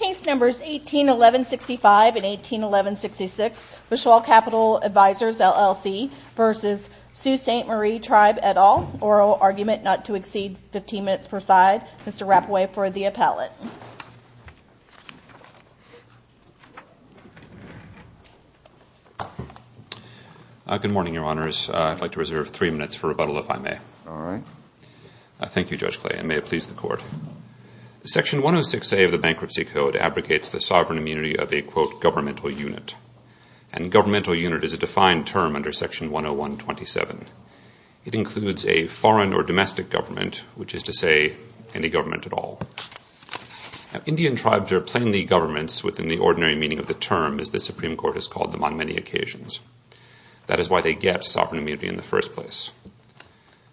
Case Numbers 181165 and 181166. Bushwald Capital Advisors LLC v. Sault Ste Marie Tribe et al. Oral argument not to exceed 15 minutes per side. Mr. Rapoway for the appellate. Good morning, Your Honors. I'd like to reserve three minutes for rebuttal, if I may. All right. Thank you, Judge Clay, and may it please the Court. Section 106A of the Bankruptcy Code abrogates the sovereign immunity of a, quote, governmental unit. And governmental unit is a defined term under Section 10127. It includes a foreign or domestic government, which is to say any government at all. Now, Indian tribes are plainly governments within the ordinary meaning of the term, as the Supreme Court has called them on many occasions. That is why they get sovereign immunity in the first place.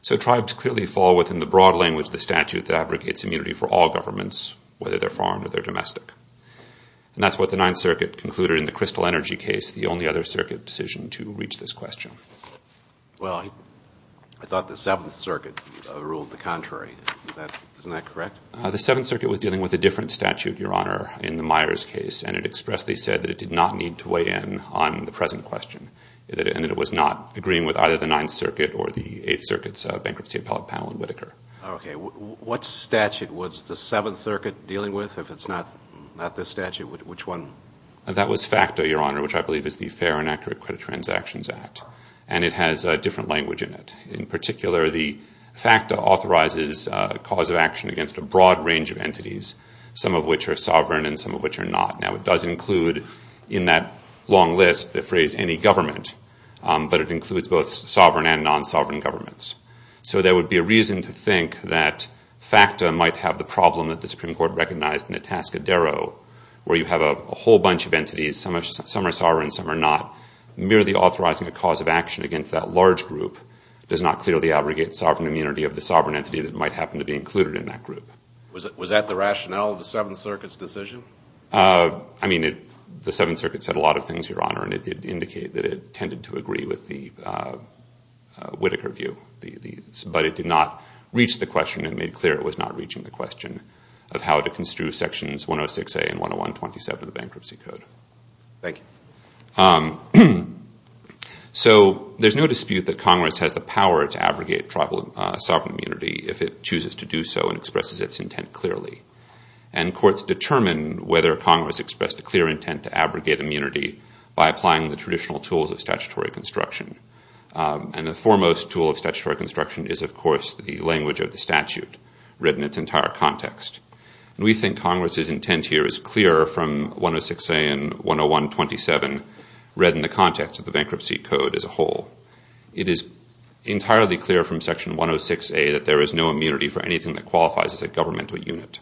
So tribes clearly fall within the broad language of the statute that abrogates immunity for all governments, whether they're foreign or they're domestic. And that's what the Ninth Circuit concluded in the Crystal Energy case, the only other circuit decision to reach this question. Well, I thought the Seventh Circuit ruled the contrary. Isn't that correct? The Seventh Circuit was dealing with a different statute, Your Honor, in the Myers case, and it expressly said that it did not need to weigh in on the present question and that it was not agreeing with either the Ninth Circuit or the Eighth Circuit's bankruptcy appellate panel in Whitaker. Okay. What statute was the Seventh Circuit dealing with? If it's not this statute, which one? That was FACTA, Your Honor, which I believe is the Fair and Accurate Credit Transactions Act, and it has a different language in it. In particular, the FACTA authorizes a cause of action against a broad range of entities, some of which are sovereign and some of which are not. Now, it does include in that long list the phrase any government, but it includes both sovereign and non-sovereign governments. So there would be a reason to think that FACTA might have the problem that the Supreme Court recognized in Itascadero, where you have a whole bunch of entities, some are sovereign and some are not, merely authorizing a cause of action against that large group does not clearly abrogate sovereign immunity of the sovereign entity that might happen to be included in that group. Was that the rationale of the Seventh Circuit's decision? I mean, the Seventh Circuit said a lot of things, Your Honor, and it did indicate that it tended to agree with the Whitaker view, but it did not reach the question and made clear it was not reaching the question of how to construe Sections 106A and 101-27 of the Bankruptcy Code. Thank you. So there's no dispute that Congress has the power to abrogate tribal sovereign immunity if it chooses to do so and expresses its intent clearly. And courts determine whether Congress expressed a clear intent to abrogate immunity by applying the traditional tools of statutory construction. And the foremost tool of statutory construction is, of course, the language of the statute read in its entire context. And we think Congress's intent here is clear from 106A and 101-27 read in the context of the Bankruptcy Code as a whole. It is entirely clear from Section 106A that there is no immunity for anything that qualifies as a governmental unit.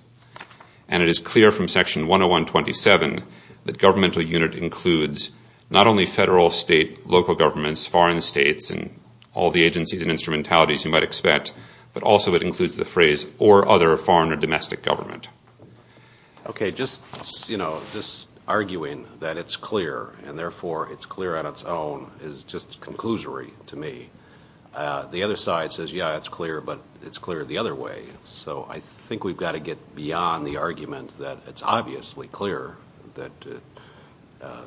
And it is clear from Section 101-27 that governmental unit includes not only federal, state, local governments, foreign states, and all the agencies and instrumentalities you might expect, but also it includes the phrase or other foreign or domestic government. Okay, just, you know, just arguing that it's clear and, therefore, it's clear on its own is just conclusory to me. The other side says, yeah, it's clear, but it's clear the other way. So I think we've got to get beyond the argument that it's obviously clear. I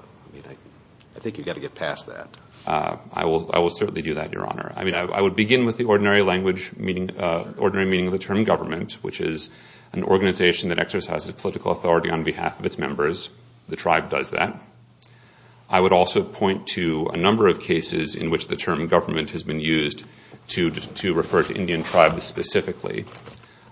think you've got to get past that. I will certainly do that, Your Honor. I would begin with the ordinary meaning of the term government, which is an organization that exercises political authority on behalf of its members. The tribe does that. I would also point to a number of cases in which the term government has been used to refer to Indian tribes specifically.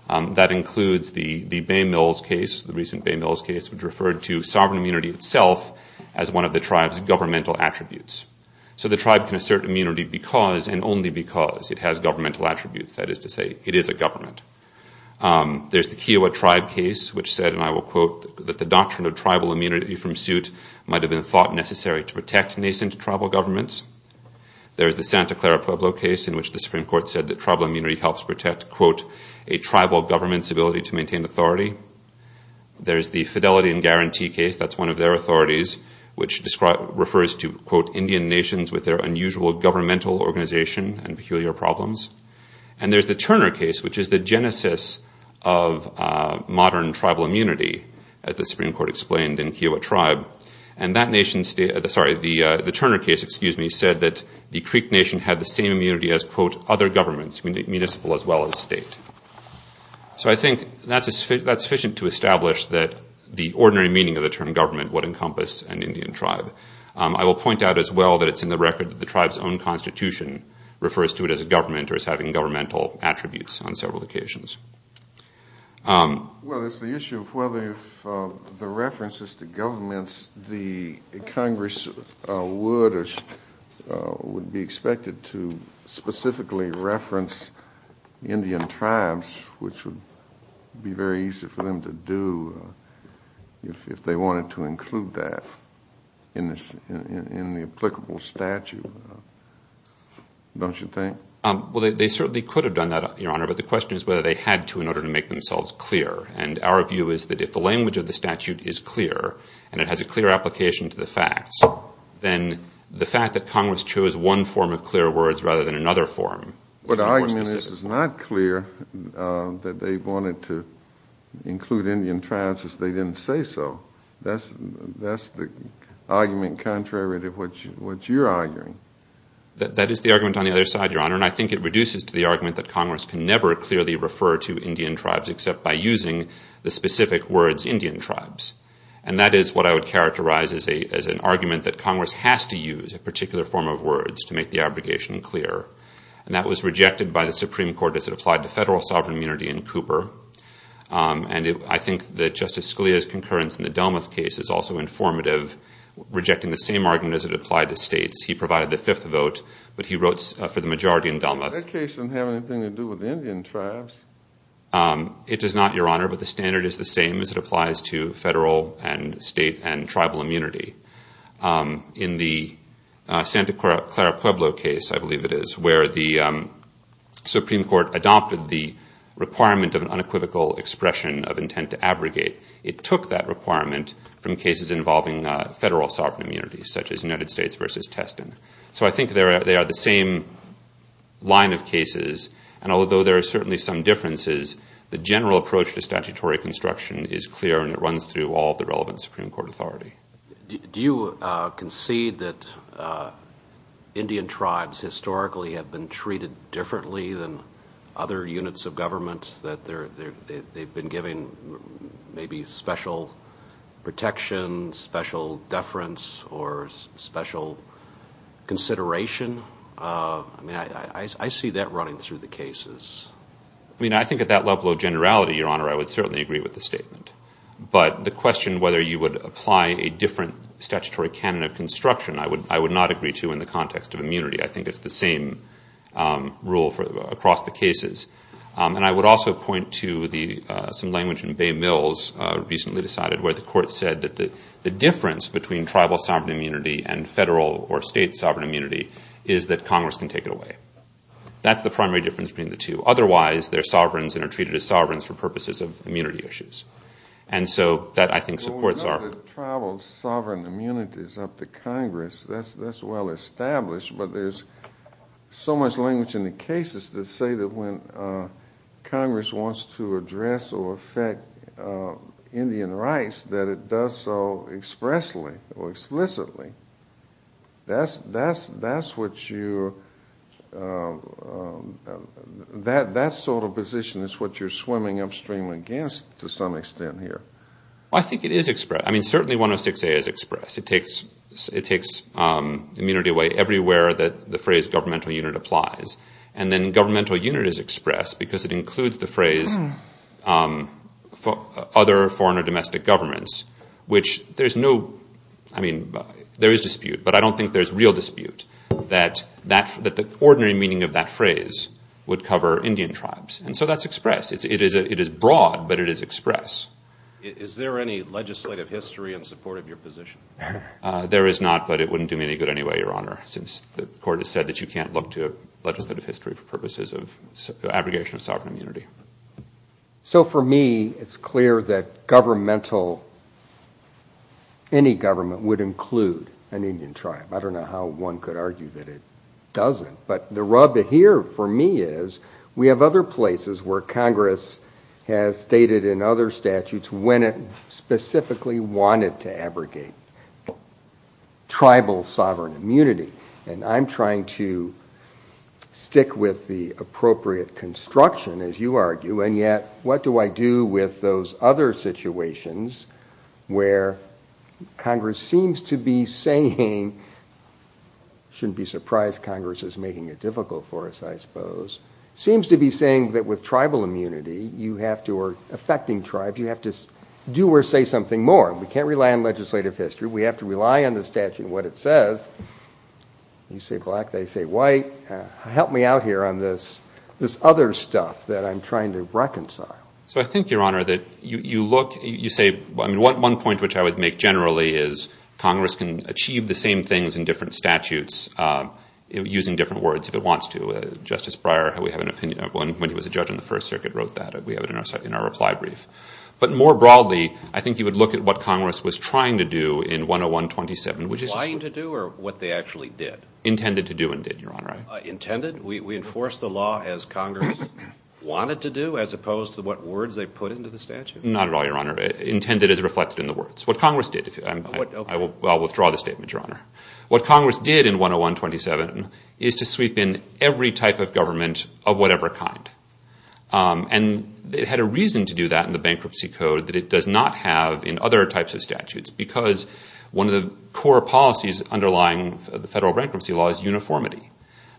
That includes the Bay Mills case, the recent Bay Mills case, which referred to sovereign immunity itself as one of the tribe's governmental attributes. So the tribe can assert immunity because and only because it has governmental attributes, that is to say it is a government. There's the Kiowa tribe case, which said, and I will quote, that the doctrine of tribal immunity from suit might have been thought necessary to protect nascent tribal governments. There's the Santa Clara Pueblo case in which the Supreme Court said that tribal immunity helps protect, quote, a tribal government's ability to maintain authority. There's the Fidelity and Guarantee case. That's one of their authorities, which refers to, quote, Indian nations with their unusual governmental organization and peculiar problems. And there's the Turner case, which is the genesis of modern tribal immunity, as the Supreme Court explained, in Kiowa tribe. And that nation, sorry, the Turner case, excuse me, said that the Creek Nation had the same immunity as, quote, other governments, municipal as well as state. So I think that's sufficient to establish that the ordinary meaning of the term government would encompass an Indian tribe. I will point out as well that it's in the record that the tribe's own constitution refers to it as a government or as having governmental attributes on several occasions. Well, it's the issue of whether the references to governments, the Congress would be expected to specifically reference Indian tribes, which would be very easy for them to do if they wanted to include that in the applicable statute, don't you think? Well, they certainly could have done that, Your Honor, but the question is whether they had to in order to make themselves clear. And our view is that if the language of the statute is clear and it has a clear application to the facts, then the fact that Congress chose one form of clear words rather than another form. But the argument is it's not clear that they wanted to include Indian tribes if they didn't say so. That's the argument contrary to what you're arguing. That is the argument on the other side, Your Honor, and I think it reduces to the argument that Congress can never clearly refer to Indian tribes except by using the specific words Indian tribes. And that is what I would characterize as an argument that Congress has to use a particular form of words to make the obligation clear. And that was rejected by the Supreme Court as it applied to federal sovereign immunity in Cooper. And I think that Justice Scalia's concurrence in the Delmuth case is also informative, rejecting the same argument as it applied to states. He provided the fifth vote, but he wrote for the majority in Delmuth. That case doesn't have anything to do with the Indian tribes. It does not, Your Honor, but the standard is the same as it applies to federal and state and tribal immunity. In the Santa Clara Pueblo case, I believe it is, where the Supreme Court adopted the requirement of an unequivocal expression of intent to abrogate. It took that requirement from cases involving federal sovereign immunity, such as United States v. Teston. So I think they are the same line of cases, and although there are certainly some differences, the general approach to statutory construction is clear and it runs through all of the relevant Supreme Court authority. Do you concede that Indian tribes historically have been treated differently than other units of government, that they've been given maybe special protection, special deference, or special consideration? I mean, I see that running through the cases. I mean, I think at that level of generality, Your Honor, I would certainly agree with the statement. But the question whether you would apply a different statutory canon of construction, I would not agree to in the context of immunity. I think it's the same rule across the cases. And I would also point to some language in Bay Mills recently decided, where the court said that the difference between tribal sovereign immunity and federal or state sovereign immunity is that Congress can take it away. That's the primary difference between the two. Otherwise, they're sovereigns and are treated as sovereigns for purposes of immunity issues. And so that, I think, supports our view. Well, we know that tribal sovereign immunity is up to Congress. That's well established. But there's so much language in the cases that say that when Congress wants to address or affect Indian rights, that it does so expressly or explicitly. That sort of position is what you're swimming upstream against to some extent here. Well, I think it is expressed. I mean, certainly 106A is expressed. It takes immunity away everywhere that the phrase governmental unit applies. And then governmental unit is expressed because it includes the phrase other foreign or domestic governments, which there is dispute. But I don't think there's real dispute that the ordinary meaning of that phrase would cover Indian tribes. And so that's expressed. It is broad, but it is expressed. Is there any legislative history in support of your position? There is not, but it wouldn't do me any good anyway, Your Honor, since the court has said that you can't look to legislative history for purposes of abrogation of sovereign immunity. So for me, it's clear that governmental, any government would include an Indian tribe. I don't know how one could argue that it doesn't. But the rub here for me is we have other places where Congress has stated in other statutes when it specifically wanted to abrogate tribal sovereign immunity. And I'm trying to stick with the appropriate construction, as you argue, and yet what do I do with those other situations where Congress seems to be saying, shouldn't be surprised Congress is making it difficult for us, I suppose, seems to be saying that with tribal immunity you have to, or affecting tribes, you have to do or say something more. We can't rely on legislative history. We have to rely on the statute and what it says. You say black, they say white. Help me out here on this other stuff that I'm trying to reconcile. So I think, Your Honor, that you look, you say, one point which I would make generally is Congress can achieve the same things in different statutes using different words if it wants to. Justice Breyer, when he was a judge in the First Circuit, wrote that. We have it in our reply brief. But more broadly, I think you would look at what Congress was trying to do in 101-27. Trying to do or what they actually did? Intended to do and did, Your Honor. Intended? We enforce the law as Congress wanted to do as opposed to what words they put into the statute? Not at all, Your Honor. Intended is reflected in the words. What Congress did, I'll withdraw the statement, Your Honor. What Congress did in 101-27 is to sweep in every type of government of whatever kind. And it had a reason to do that in the bankruptcy code that it does not have in other types of statutes because one of the core policies underlying the federal bankruptcy law is uniformity.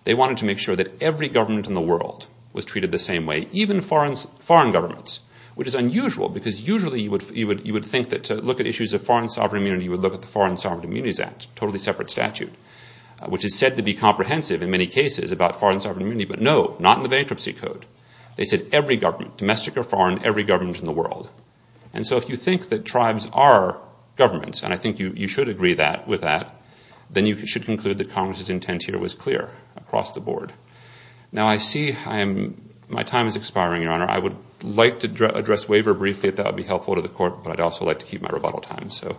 They wanted to make sure that every government in the world was treated the same way, even foreign governments, which is unusual because usually you would think that to look at issues of foreign sovereign immunity, you would look at the Foreign Sovereign Immunities Act, a totally separate statute, which is said to be comprehensive in many cases about foreign sovereign immunity, but no, not in the bankruptcy code. They said every government, domestic or foreign, every government in the world. And so if you think that tribes are governments, and I think you should agree with that, then you should conclude that Congress's intent here was clear across the board. Now I see my time is expiring, Your Honor. I would like to address waiver briefly if that would be helpful to the Court, but I'd also like to keep my rebuttal time. So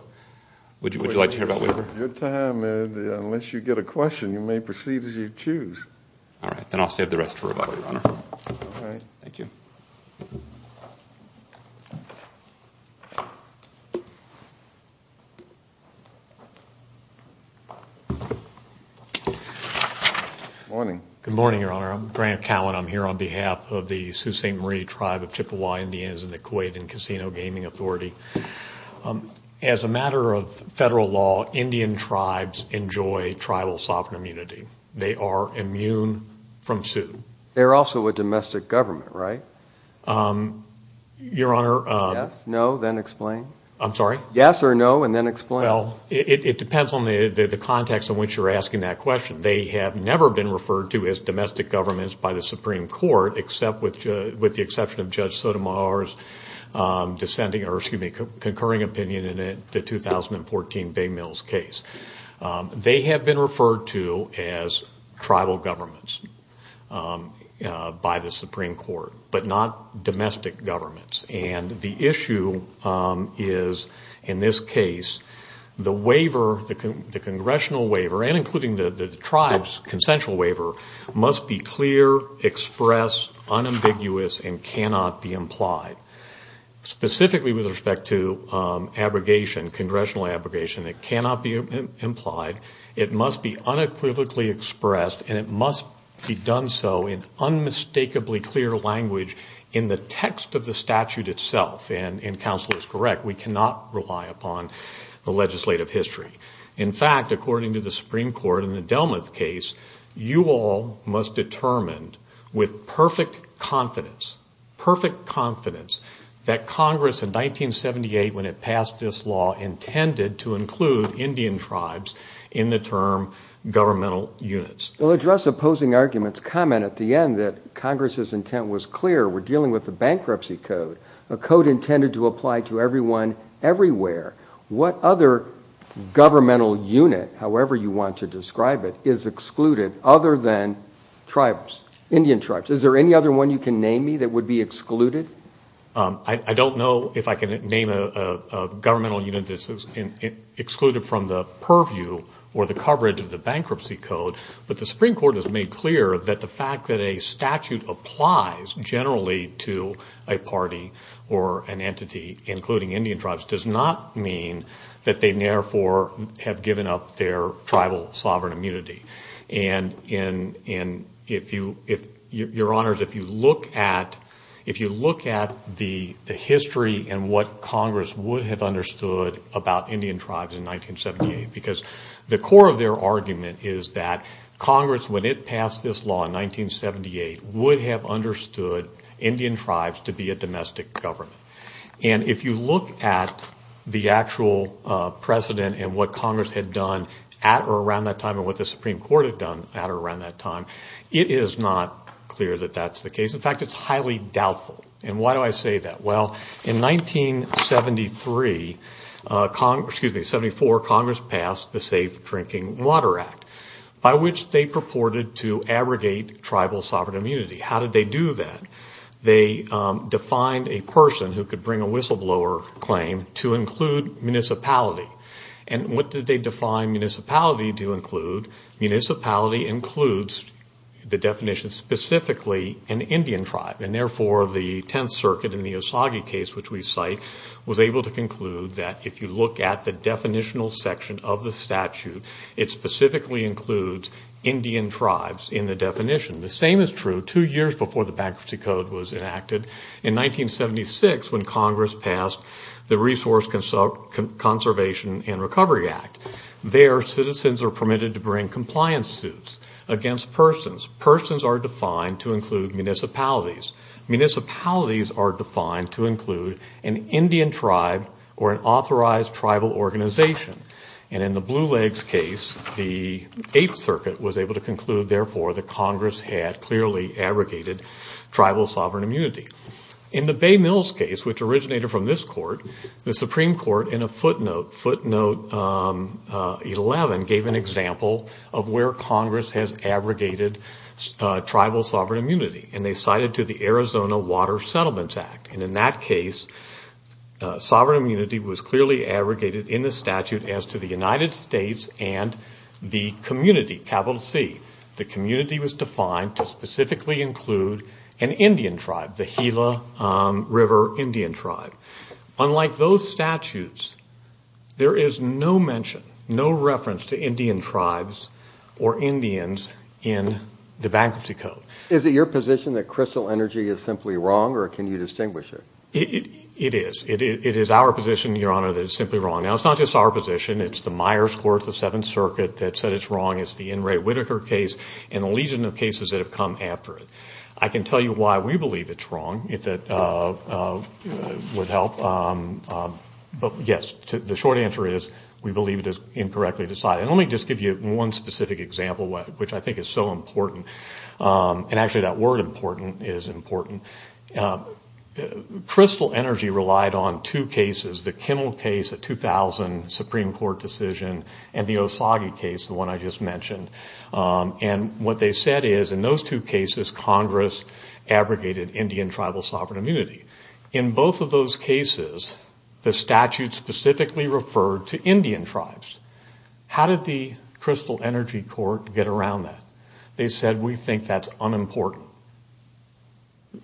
would you like to hear about waiver? Your time, unless you get a question, you may proceed as you choose. All right. Then I'll save the rest for rebuttal, Your Honor. All right. Thank you. Good morning, Your Honor. I'm Grant Cowan. I'm here on behalf of the Sault Ste. Marie tribe of Chippewa Indians and the Kuwait Casino Gaming Authority. As a matter of federal law, Indian tribes enjoy tribal sovereign immunity. They are immune from suit. They're also a domestic government, right? Your Honor. Yes, no, then explain. I'm sorry? Yes or no, and then explain. Well, it depends on the context in which you're asking that question. They have never been referred to as domestic governments by the Supreme Court, except with the exception of Judge Sotomayor's descending or, excuse me, concurring opinion in the 2014 Bay Mills case. They have been referred to as tribal governments by the Supreme Court, but not domestic governments. And the issue is, in this case, the waiver, the congressional waiver, and including the tribe's consensual waiver, must be clear, expressed, unambiguous, and cannot be implied. Specifically with respect to abrogation, congressional abrogation, it cannot be implied. It must be unequivocally expressed, and it must be done so in unmistakably clear language in the text of the statute itself, and counsel is correct. We cannot rely upon the legislative history. In fact, according to the Supreme Court in the Delmuth case, you all must determine with perfect confidence, perfect confidence that Congress in 1978, when it passed this law, intended to include Indian tribes in the term governmental units. Well, address opposing arguments. Comment at the end that Congress's intent was clear. We're dealing with a bankruptcy code, a code intended to apply to everyone everywhere. What other governmental unit, however you want to describe it, is excluded other than tribes, Indian tribes? Is there any other one you can name me that would be excluded? I don't know if I can name a governmental unit that's excluded from the purview or the coverage of the bankruptcy code, but the Supreme Court has made clear that the fact that a statute applies generally to a party or an entity, including Indian tribes, does not mean that they, therefore, have given up their tribal sovereign immunity. And, Your Honors, if you look at the history and what Congress would have understood about Indian tribes in 1978, because the core of their argument is that Congress, when it passed this law in 1978, would have understood Indian tribes to be a domestic government. And if you look at the actual precedent and what Congress had done at or around that time and what the Supreme Court had done at or around that time, it is not clear that that's the case. In fact, it's highly doubtful. And why do I say that? Well, in 1973, excuse me, 74, Congress passed the Safe Drinking Water Act, by which they purported to abrogate tribal sovereign immunity. How did they do that? They defined a person who could bring a whistleblower claim to include municipality. And what did they define municipality to include? Municipality includes, the definition specifically, an Indian tribe. And, therefore, the Tenth Circuit in the Osagie case, which we cite, was able to conclude that, if you look at the definitional section of the statute, it specifically includes Indian tribes in the definition. The same is true two years before the Bankruptcy Code was enacted. In 1976, when Congress passed the Resource Conservation and Recovery Act, there citizens are permitted to bring compliance suits against persons. Persons are defined to include municipalities. Municipalities are defined to include an Indian tribe or an authorized tribal organization. And in the Blue Legs case, the Eighth Circuit was able to conclude, therefore, that Congress had clearly abrogated tribal sovereign immunity. In the Bay Mills case, which originated from this court, the Supreme Court, in a footnote, footnote 11, gave an example of where Congress has abrogated tribal sovereign immunity. And they cited to the Arizona Water Settlements Act. And in that case, sovereign immunity was clearly abrogated in the statute as to the United States and the community, capital C, the community was defined to specifically include an Indian tribe, the Gila River Indian tribe. Unlike those statutes, there is no mention, no reference to Indian tribes or Indians in the Bankruptcy Code. Is it your position that Crystal Energy is simply wrong, or can you distinguish it? It is. It is our position, Your Honor, that it's simply wrong. Now, it's not just our position. It's the Myers Court, the Seventh Circuit, that said it's wrong. It's the N. Ray Whitaker case and the legion of cases that have come after it. I can tell you why we believe it's wrong, if that would help. But, yes, the short answer is we believe it is incorrectly decided. And let me just give you one specific example, which I think is so important. And, actually, that word important is important. Crystal Energy relied on two cases, the Kimmel case, a 2000 Supreme Court decision, and the Osagie case, the one I just mentioned. And what they said is, in those two cases, Congress abrogated Indian tribal sovereign immunity. In both of those cases, the statute specifically referred to Indian tribes. How did the Crystal Energy Court get around that? They said, we think that's unimportant.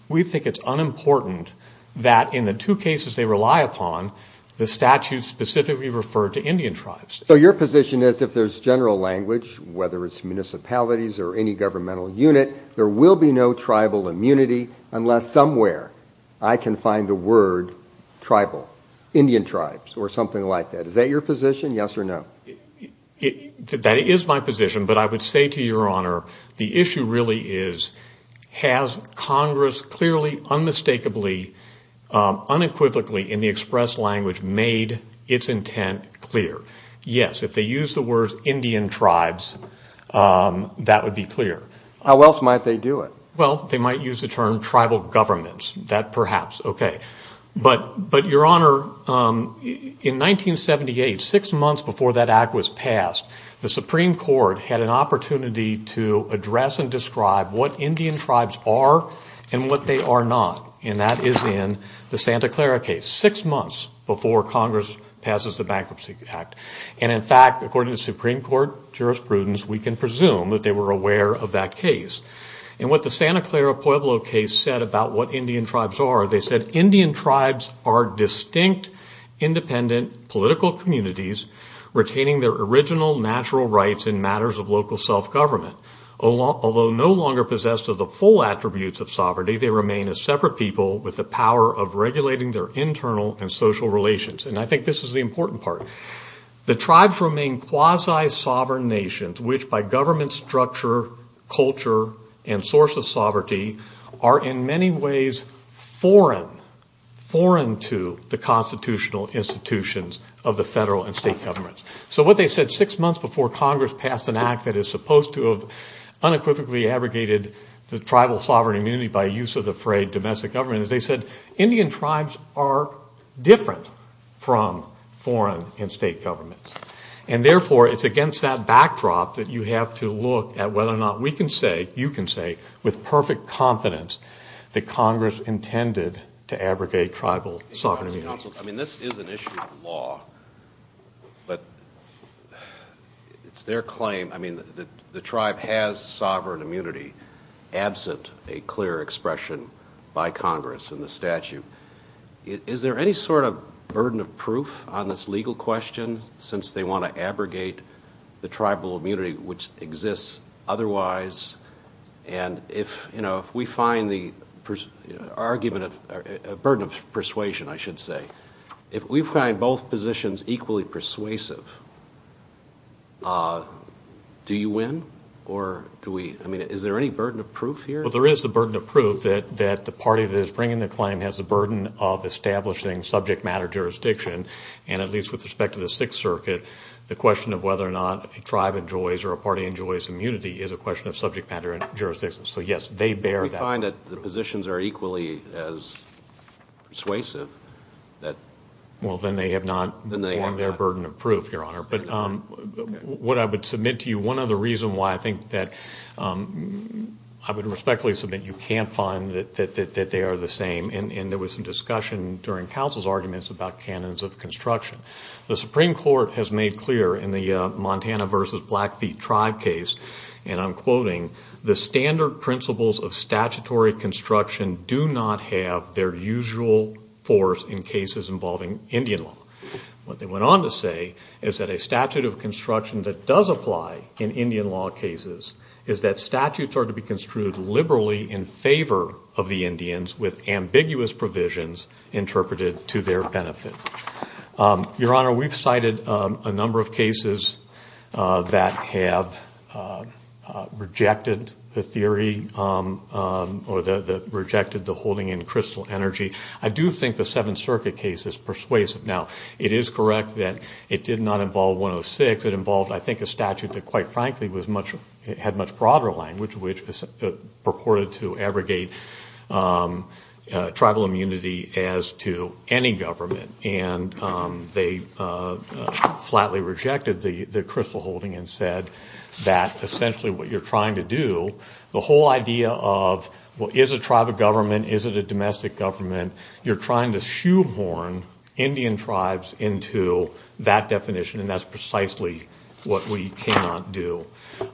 We think it's unimportant that, in the two cases they rely upon, the statute specifically referred to Indian tribes. So your position is, if there's general language, whether it's municipalities or any governmental unit, there will be no tribal immunity unless somewhere I can find the word tribal, Indian tribes, or something like that. Is that your position, yes or no? That is my position. But I would say to your Honor, the issue really is, has Congress clearly, unmistakably, unequivocally, in the express language, made its intent clear? Yes. If they use the words Indian tribes, that would be clear. How else might they do it? Well, they might use the term tribal governments. That perhaps, okay. But, your Honor, in 1978, six months before that act was passed, the Supreme Court had an opportunity to address and describe what Indian tribes are and what they are not. And that is in the Santa Clara case, six months before Congress passes the Bankruptcy Act. And, in fact, according to Supreme Court jurisprudence, we can presume that they were aware of that case. And what the Santa Clara Pueblo case said about what Indian tribes are, they said Indian tribes are distinct, independent, political communities retaining their original natural rights in matters of local self-government. Although no longer possessed of the full attributes of sovereignty, they remain a separate people with the power of regulating their internal and social relations. And I think this is the important part. The tribes remain quasi-sovereign nations, which by government structure, culture, and source of sovereignty are in many ways foreign, foreign to the constitutional institutions of the federal and state governments. So what they said six months before Congress passed an act that is supposed to have unequivocally abrogated the tribal sovereign immunity by use of the frayed domestic government, they said Indian tribes are different from foreign and state governments. And, therefore, it's against that backdrop that you have to look at whether or not we can say, you can say with perfect confidence that Congress intended to abrogate tribal sovereign immunity. I mean, this is an issue of law, but it's their claim, I mean, that the tribe has sovereign immunity absent a clear expression by Congress in the statute. Is there any sort of burden of proof on this legal question since they want to abrogate the tribal immunity, which exists otherwise? And if we find the argument of a burden of persuasion, I should say, if we find both positions equally persuasive, do you win? Or do we, I mean, is there any burden of proof here? Well, there is the burden of proof that the party that is bringing the claim has the burden of establishing subject matter jurisdiction, and at least with respect to the Sixth Circuit, the question of whether or not a tribe enjoys or a party enjoys immunity is a question of subject matter jurisdiction. So, yes, they bear that burden. If we find that the positions are equally as persuasive, then they have their burden of proof, Your Honor. But what I would submit to you, one other reason why I think that I would respectfully submit you can't find that they are the same, and there was some discussion during counsel's arguments about canons of construction. The Supreme Court has made clear in the Montana v. Blackfeet tribe case, and I'm quoting, the standard principles of statutory construction do not have their usual force in cases involving Indian law. What they went on to say is that a statute of construction that does apply in Indian law cases is that statutes are to be construed liberally in favor of the Indians with ambiguous provisions interpreted to their benefit. Your Honor, we've cited a number of cases that have rejected the theory or that rejected the holding in crystal energy. I do think the Seventh Circuit case is persuasive. Now, it is correct that it did not involve 106. It involved, I think, a statute that, quite frankly, had much broader language, purported to abrogate tribal immunity as to any government. And they flatly rejected the crystal holding and said that essentially what you're trying to do, the whole idea of is a tribe a government, is it a domestic government, you're trying to shoehorn Indian tribes into that definition, and that's precisely what we cannot do.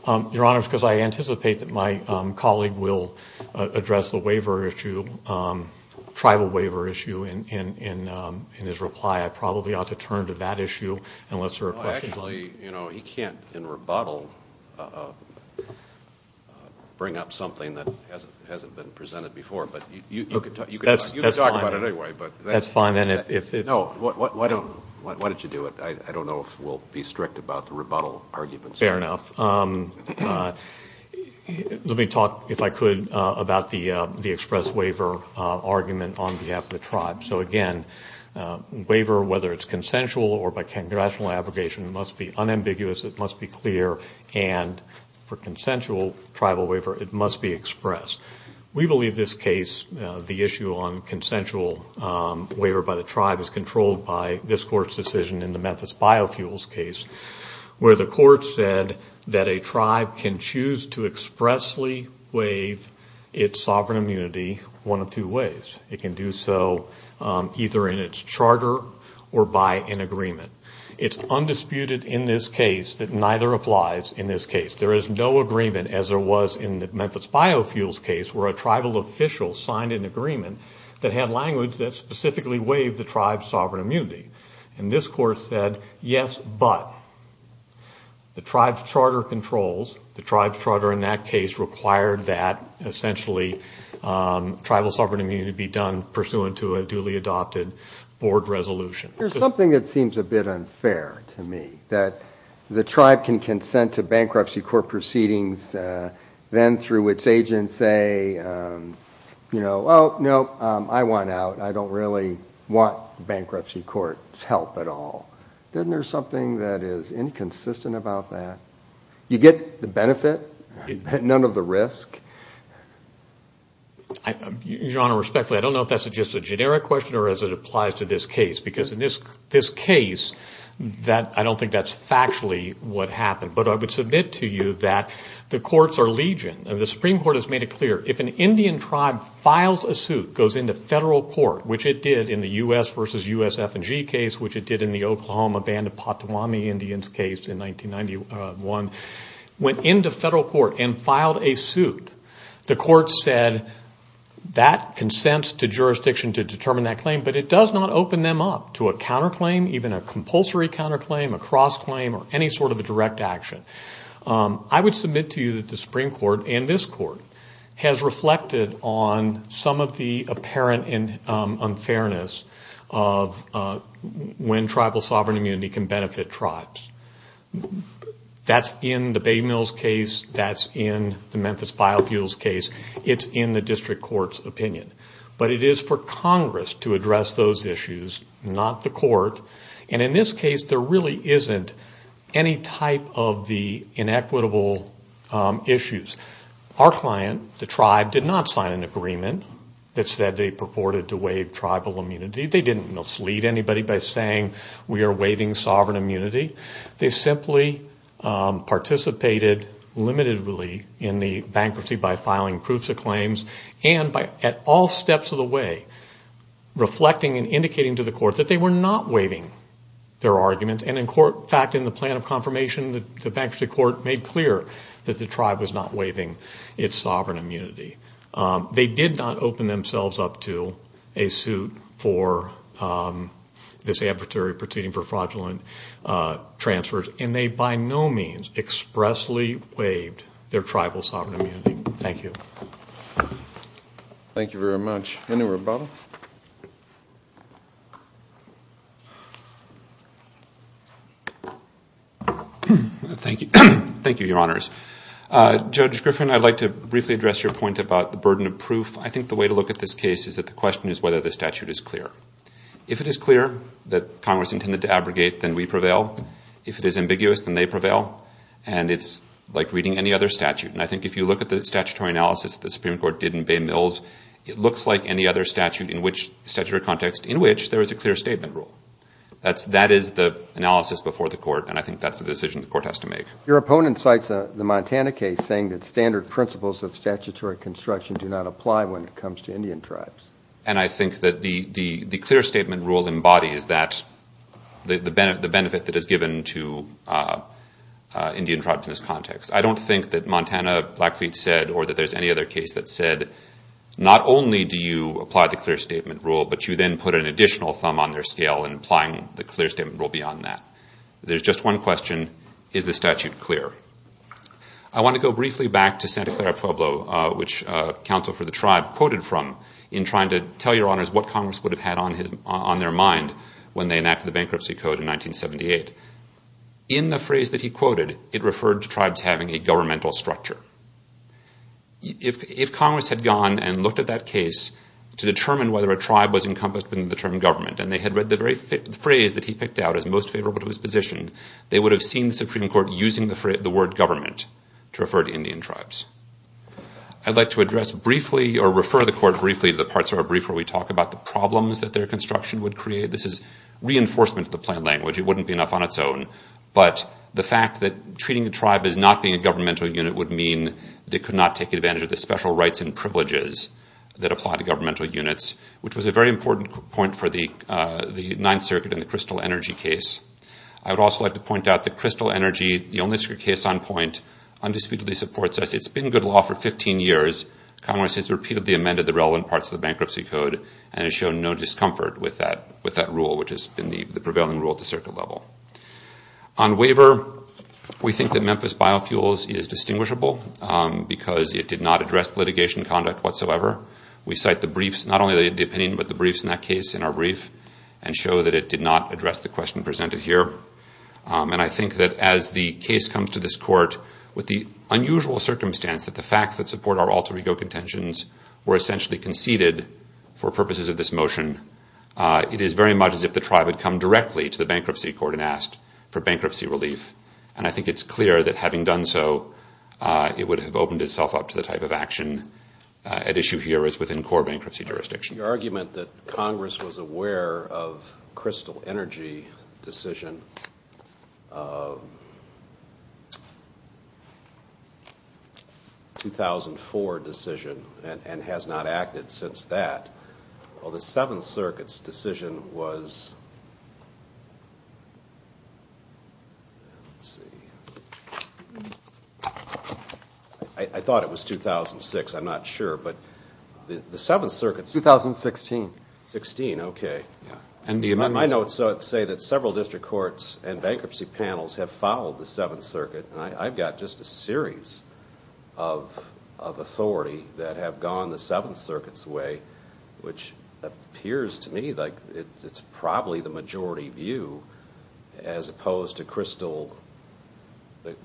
Your Honor, because I anticipate that my colleague will address the waiver issue, tribal waiver issue, in his reply, I probably ought to turn to that issue unless there are questions. Actually, you know, he can't, in rebuttal, bring up something that hasn't been presented before. But you can talk about it anyway. That's fine. No, why don't you do it? I don't know if we'll be strict about the rebuttal arguments. Fair enough. Let me talk, if I could, about the express waiver argument on behalf of the tribe. So, again, waiver, whether it's consensual or by congressional abrogation, must be unambiguous. It must be clear. And for consensual tribal waiver, it must be expressed. We believe this case, the issue on consensual waiver by the tribe, is controlled by this Court's decision in the Memphis Biofuels case, where the Court said that a tribe can choose to expressly waive its sovereign immunity one of two ways. It can do so either in its charter or by an agreement. It's undisputed in this case that neither applies in this case. There is no agreement, as there was in the Memphis Biofuels case, where a tribal official signed an agreement that had language that specifically waived the tribe's sovereign immunity. And this Court said, yes, but the tribe's charter controls, the tribe's charter in that case, required that essentially tribal sovereign immunity be done pursuant to a duly adopted board resolution. There's something that seems a bit unfair to me, that the tribe can consent to bankruptcy court proceedings, then through its agency, you know, oh, no, I want out. I don't really want bankruptcy court's help at all. Isn't there something that is inconsistent about that? You get the benefit, none of the risk. Your Honor, respectfully, I don't know if that's just a generic question or as it applies to this case, because in this case, I don't think that's factually what happened. But I would submit to you that the courts are legion. The Supreme Court has made it clear, if an Indian tribe files a suit, goes into federal court, which it did in the U.S. versus U.S. F&G case, which it did in the Oklahoma Band of Potawatomi Indians case in 1991, went into federal court and filed a suit, the court said that consents to jurisdiction to determine that claim, but it does not open them up to a counterclaim, even a compulsory counterclaim, a cross-claim, or any sort of a direct action. I would submit to you that the Supreme Court and this Court has reflected on some of the apparent unfairness of when tribal sovereign immunity can benefit tribes. That's in the Bay Mills case. That's in the Memphis biofuels case. It's in the district court's opinion. But it is for Congress to address those issues, not the court. And in this case, there really isn't any type of the inequitable issues. Our client, the tribe, did not sign an agreement that said they purported to waive tribal immunity. They didn't mislead anybody by saying we are waiving sovereign immunity. They simply participated limitedly in the bankruptcy by filing proofs of claims and at all steps of the way reflecting and indicating to the court that they were not waiving their arguments. And in fact, in the plan of confirmation, the bankruptcy court made clear that the tribe was not waiving its sovereign immunity. They did not open themselves up to a suit for this adversary proceeding for fraudulent transfers. And they by no means expressly waived their tribal sovereign immunity. Thank you. Thank you very much. Any more questions? Thank you. Thank you, Your Honors. Judge Griffin, I'd like to briefly address your point about the burden of proof. I think the way to look at this case is that the question is whether the statute is clear. If it is clear that Congress intended to abrogate, then we prevail. If it is ambiguous, then they prevail. And it's like reading any other statute. And I think if you look at the statutory analysis that the Supreme Court did in Bay Mills, it looks like any other statute in which there is a clear statement rule. That is the analysis before the court, and I think that's the decision the court has to make. Your opponent cites the Montana case saying that standard principles of statutory construction do not apply when it comes to Indian tribes. And I think that the clear statement rule embodies the benefit that is given to Indian tribes in this context. I don't think that Montana, Blackfeet said, or that there's any other case that said, not only do you apply the clear statement rule, but you then put an additional thumb on their scale in applying the clear statement rule beyond that. There's just one question. Is the statute clear? I want to go briefly back to Santa Clara, Pueblo, which counsel for the tribe quoted from in trying to tell your honors what Congress would have had on their mind when they enacted the Bankruptcy Code in 1978. In the phrase that he quoted, it referred to tribes having a governmental structure. If Congress had gone and looked at that case to determine whether a tribe was encompassed and they had read the phrase that he picked out as most favorable to his position, they would have seen the Supreme Court using the word government to refer to Indian tribes. I'd like to refer the court briefly to the parts of our brief where we talk about the problems that their construction would create. This is reinforcement of the plain language. It wouldn't be enough on its own. But the fact that treating a tribe as not being a governmental unit would mean they could not take advantage of the special rights and privileges that apply to governmental units, which was a very important point for the Ninth Circuit in the Crystal Energy case. I would also like to point out that Crystal Energy, the only case on point, undisputedly supports us. It's been good law for 15 years. Congress has repeatedly amended the relevant parts of the Bankruptcy Code and has shown no discomfort with that rule, which has been the prevailing rule at the circuit level. On waiver, we think that Memphis Biofuels is distinguishable because it did not address litigation conduct whatsoever. We cite the briefs, not only the opinion, but the briefs in that case in our brief and show that it did not address the question presented here. And I think that as the case comes to this court, with the unusual circumstance that the facts that support our alter ego contentions were essentially conceded for purposes of this motion, it is very much as if the tribe had come directly to the Bankruptcy Court and asked for bankruptcy relief. And I think it's clear that having done so, it would have opened itself up to the type of action at issue here as within core bankruptcy jurisdiction. The argument that Congress was aware of Crystal Energy's decision, 2004 decision, and has not acted since that, well, the Seventh Circuit's decision was, let's see, I thought it was 2006, I'm not sure, but the Seventh Circuit's... 2016. 16, okay. Yeah. And the amendments... My notes say that several district courts and bankruptcy panels have followed the Seventh Circuit, and I've got just a series of authority that have gone the Seventh Circuit's way, which appears to me like it's probably the majority view as opposed to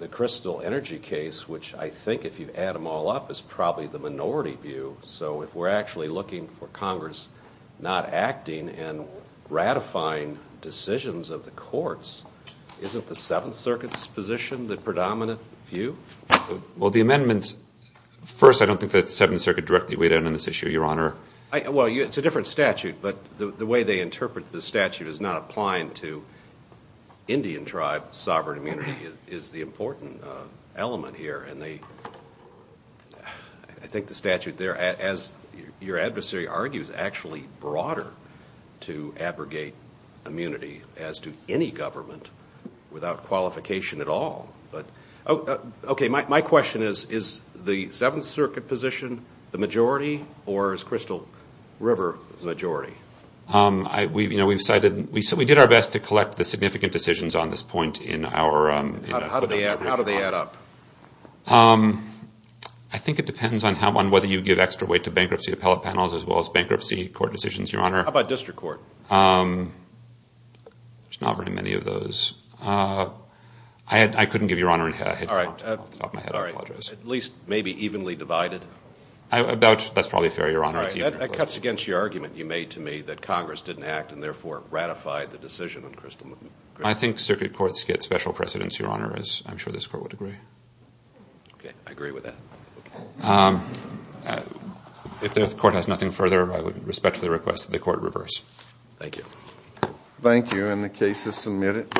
the Crystal Energy case, which I think if you add them all up is probably the minority view. So if we're actually looking for Congress not acting and ratifying decisions of the courts, isn't the Seventh Circuit's position the predominant view? Well, the amendments, first, I don't think the Seventh Circuit directly weighed in on this issue, Your Honor. Well, it's a different statute, but the way they interpret the statute as not applying to Indian tribe sovereign immunity is the important element here. And I think the statute there, as your adversary argues, is actually broader to abrogate immunity as to any government without qualification at all. But, okay, my question is, is the Seventh Circuit position the majority, or is Crystal River the majority? You know, we've cited, we did our best to collect the significant decisions on this point in our... How do they add up? I think it depends on whether you give extra weight to bankruptcy appellate panels as well as bankruptcy court decisions, Your Honor. How about district court? There's not very many of those. I couldn't give, Your Honor. All right. At least maybe evenly divided? That's probably fair, Your Honor. That cuts against your argument you made to me that Congress didn't act and therefore ratified the decision on Crystal River. I think circuit courts get special precedence, Your Honor, as I'm sure this Court would agree. Okay, I agree with that. If the Court has nothing further, I would respectfully request that the Court reverse. Thank you. Thank you. And the case is submitted.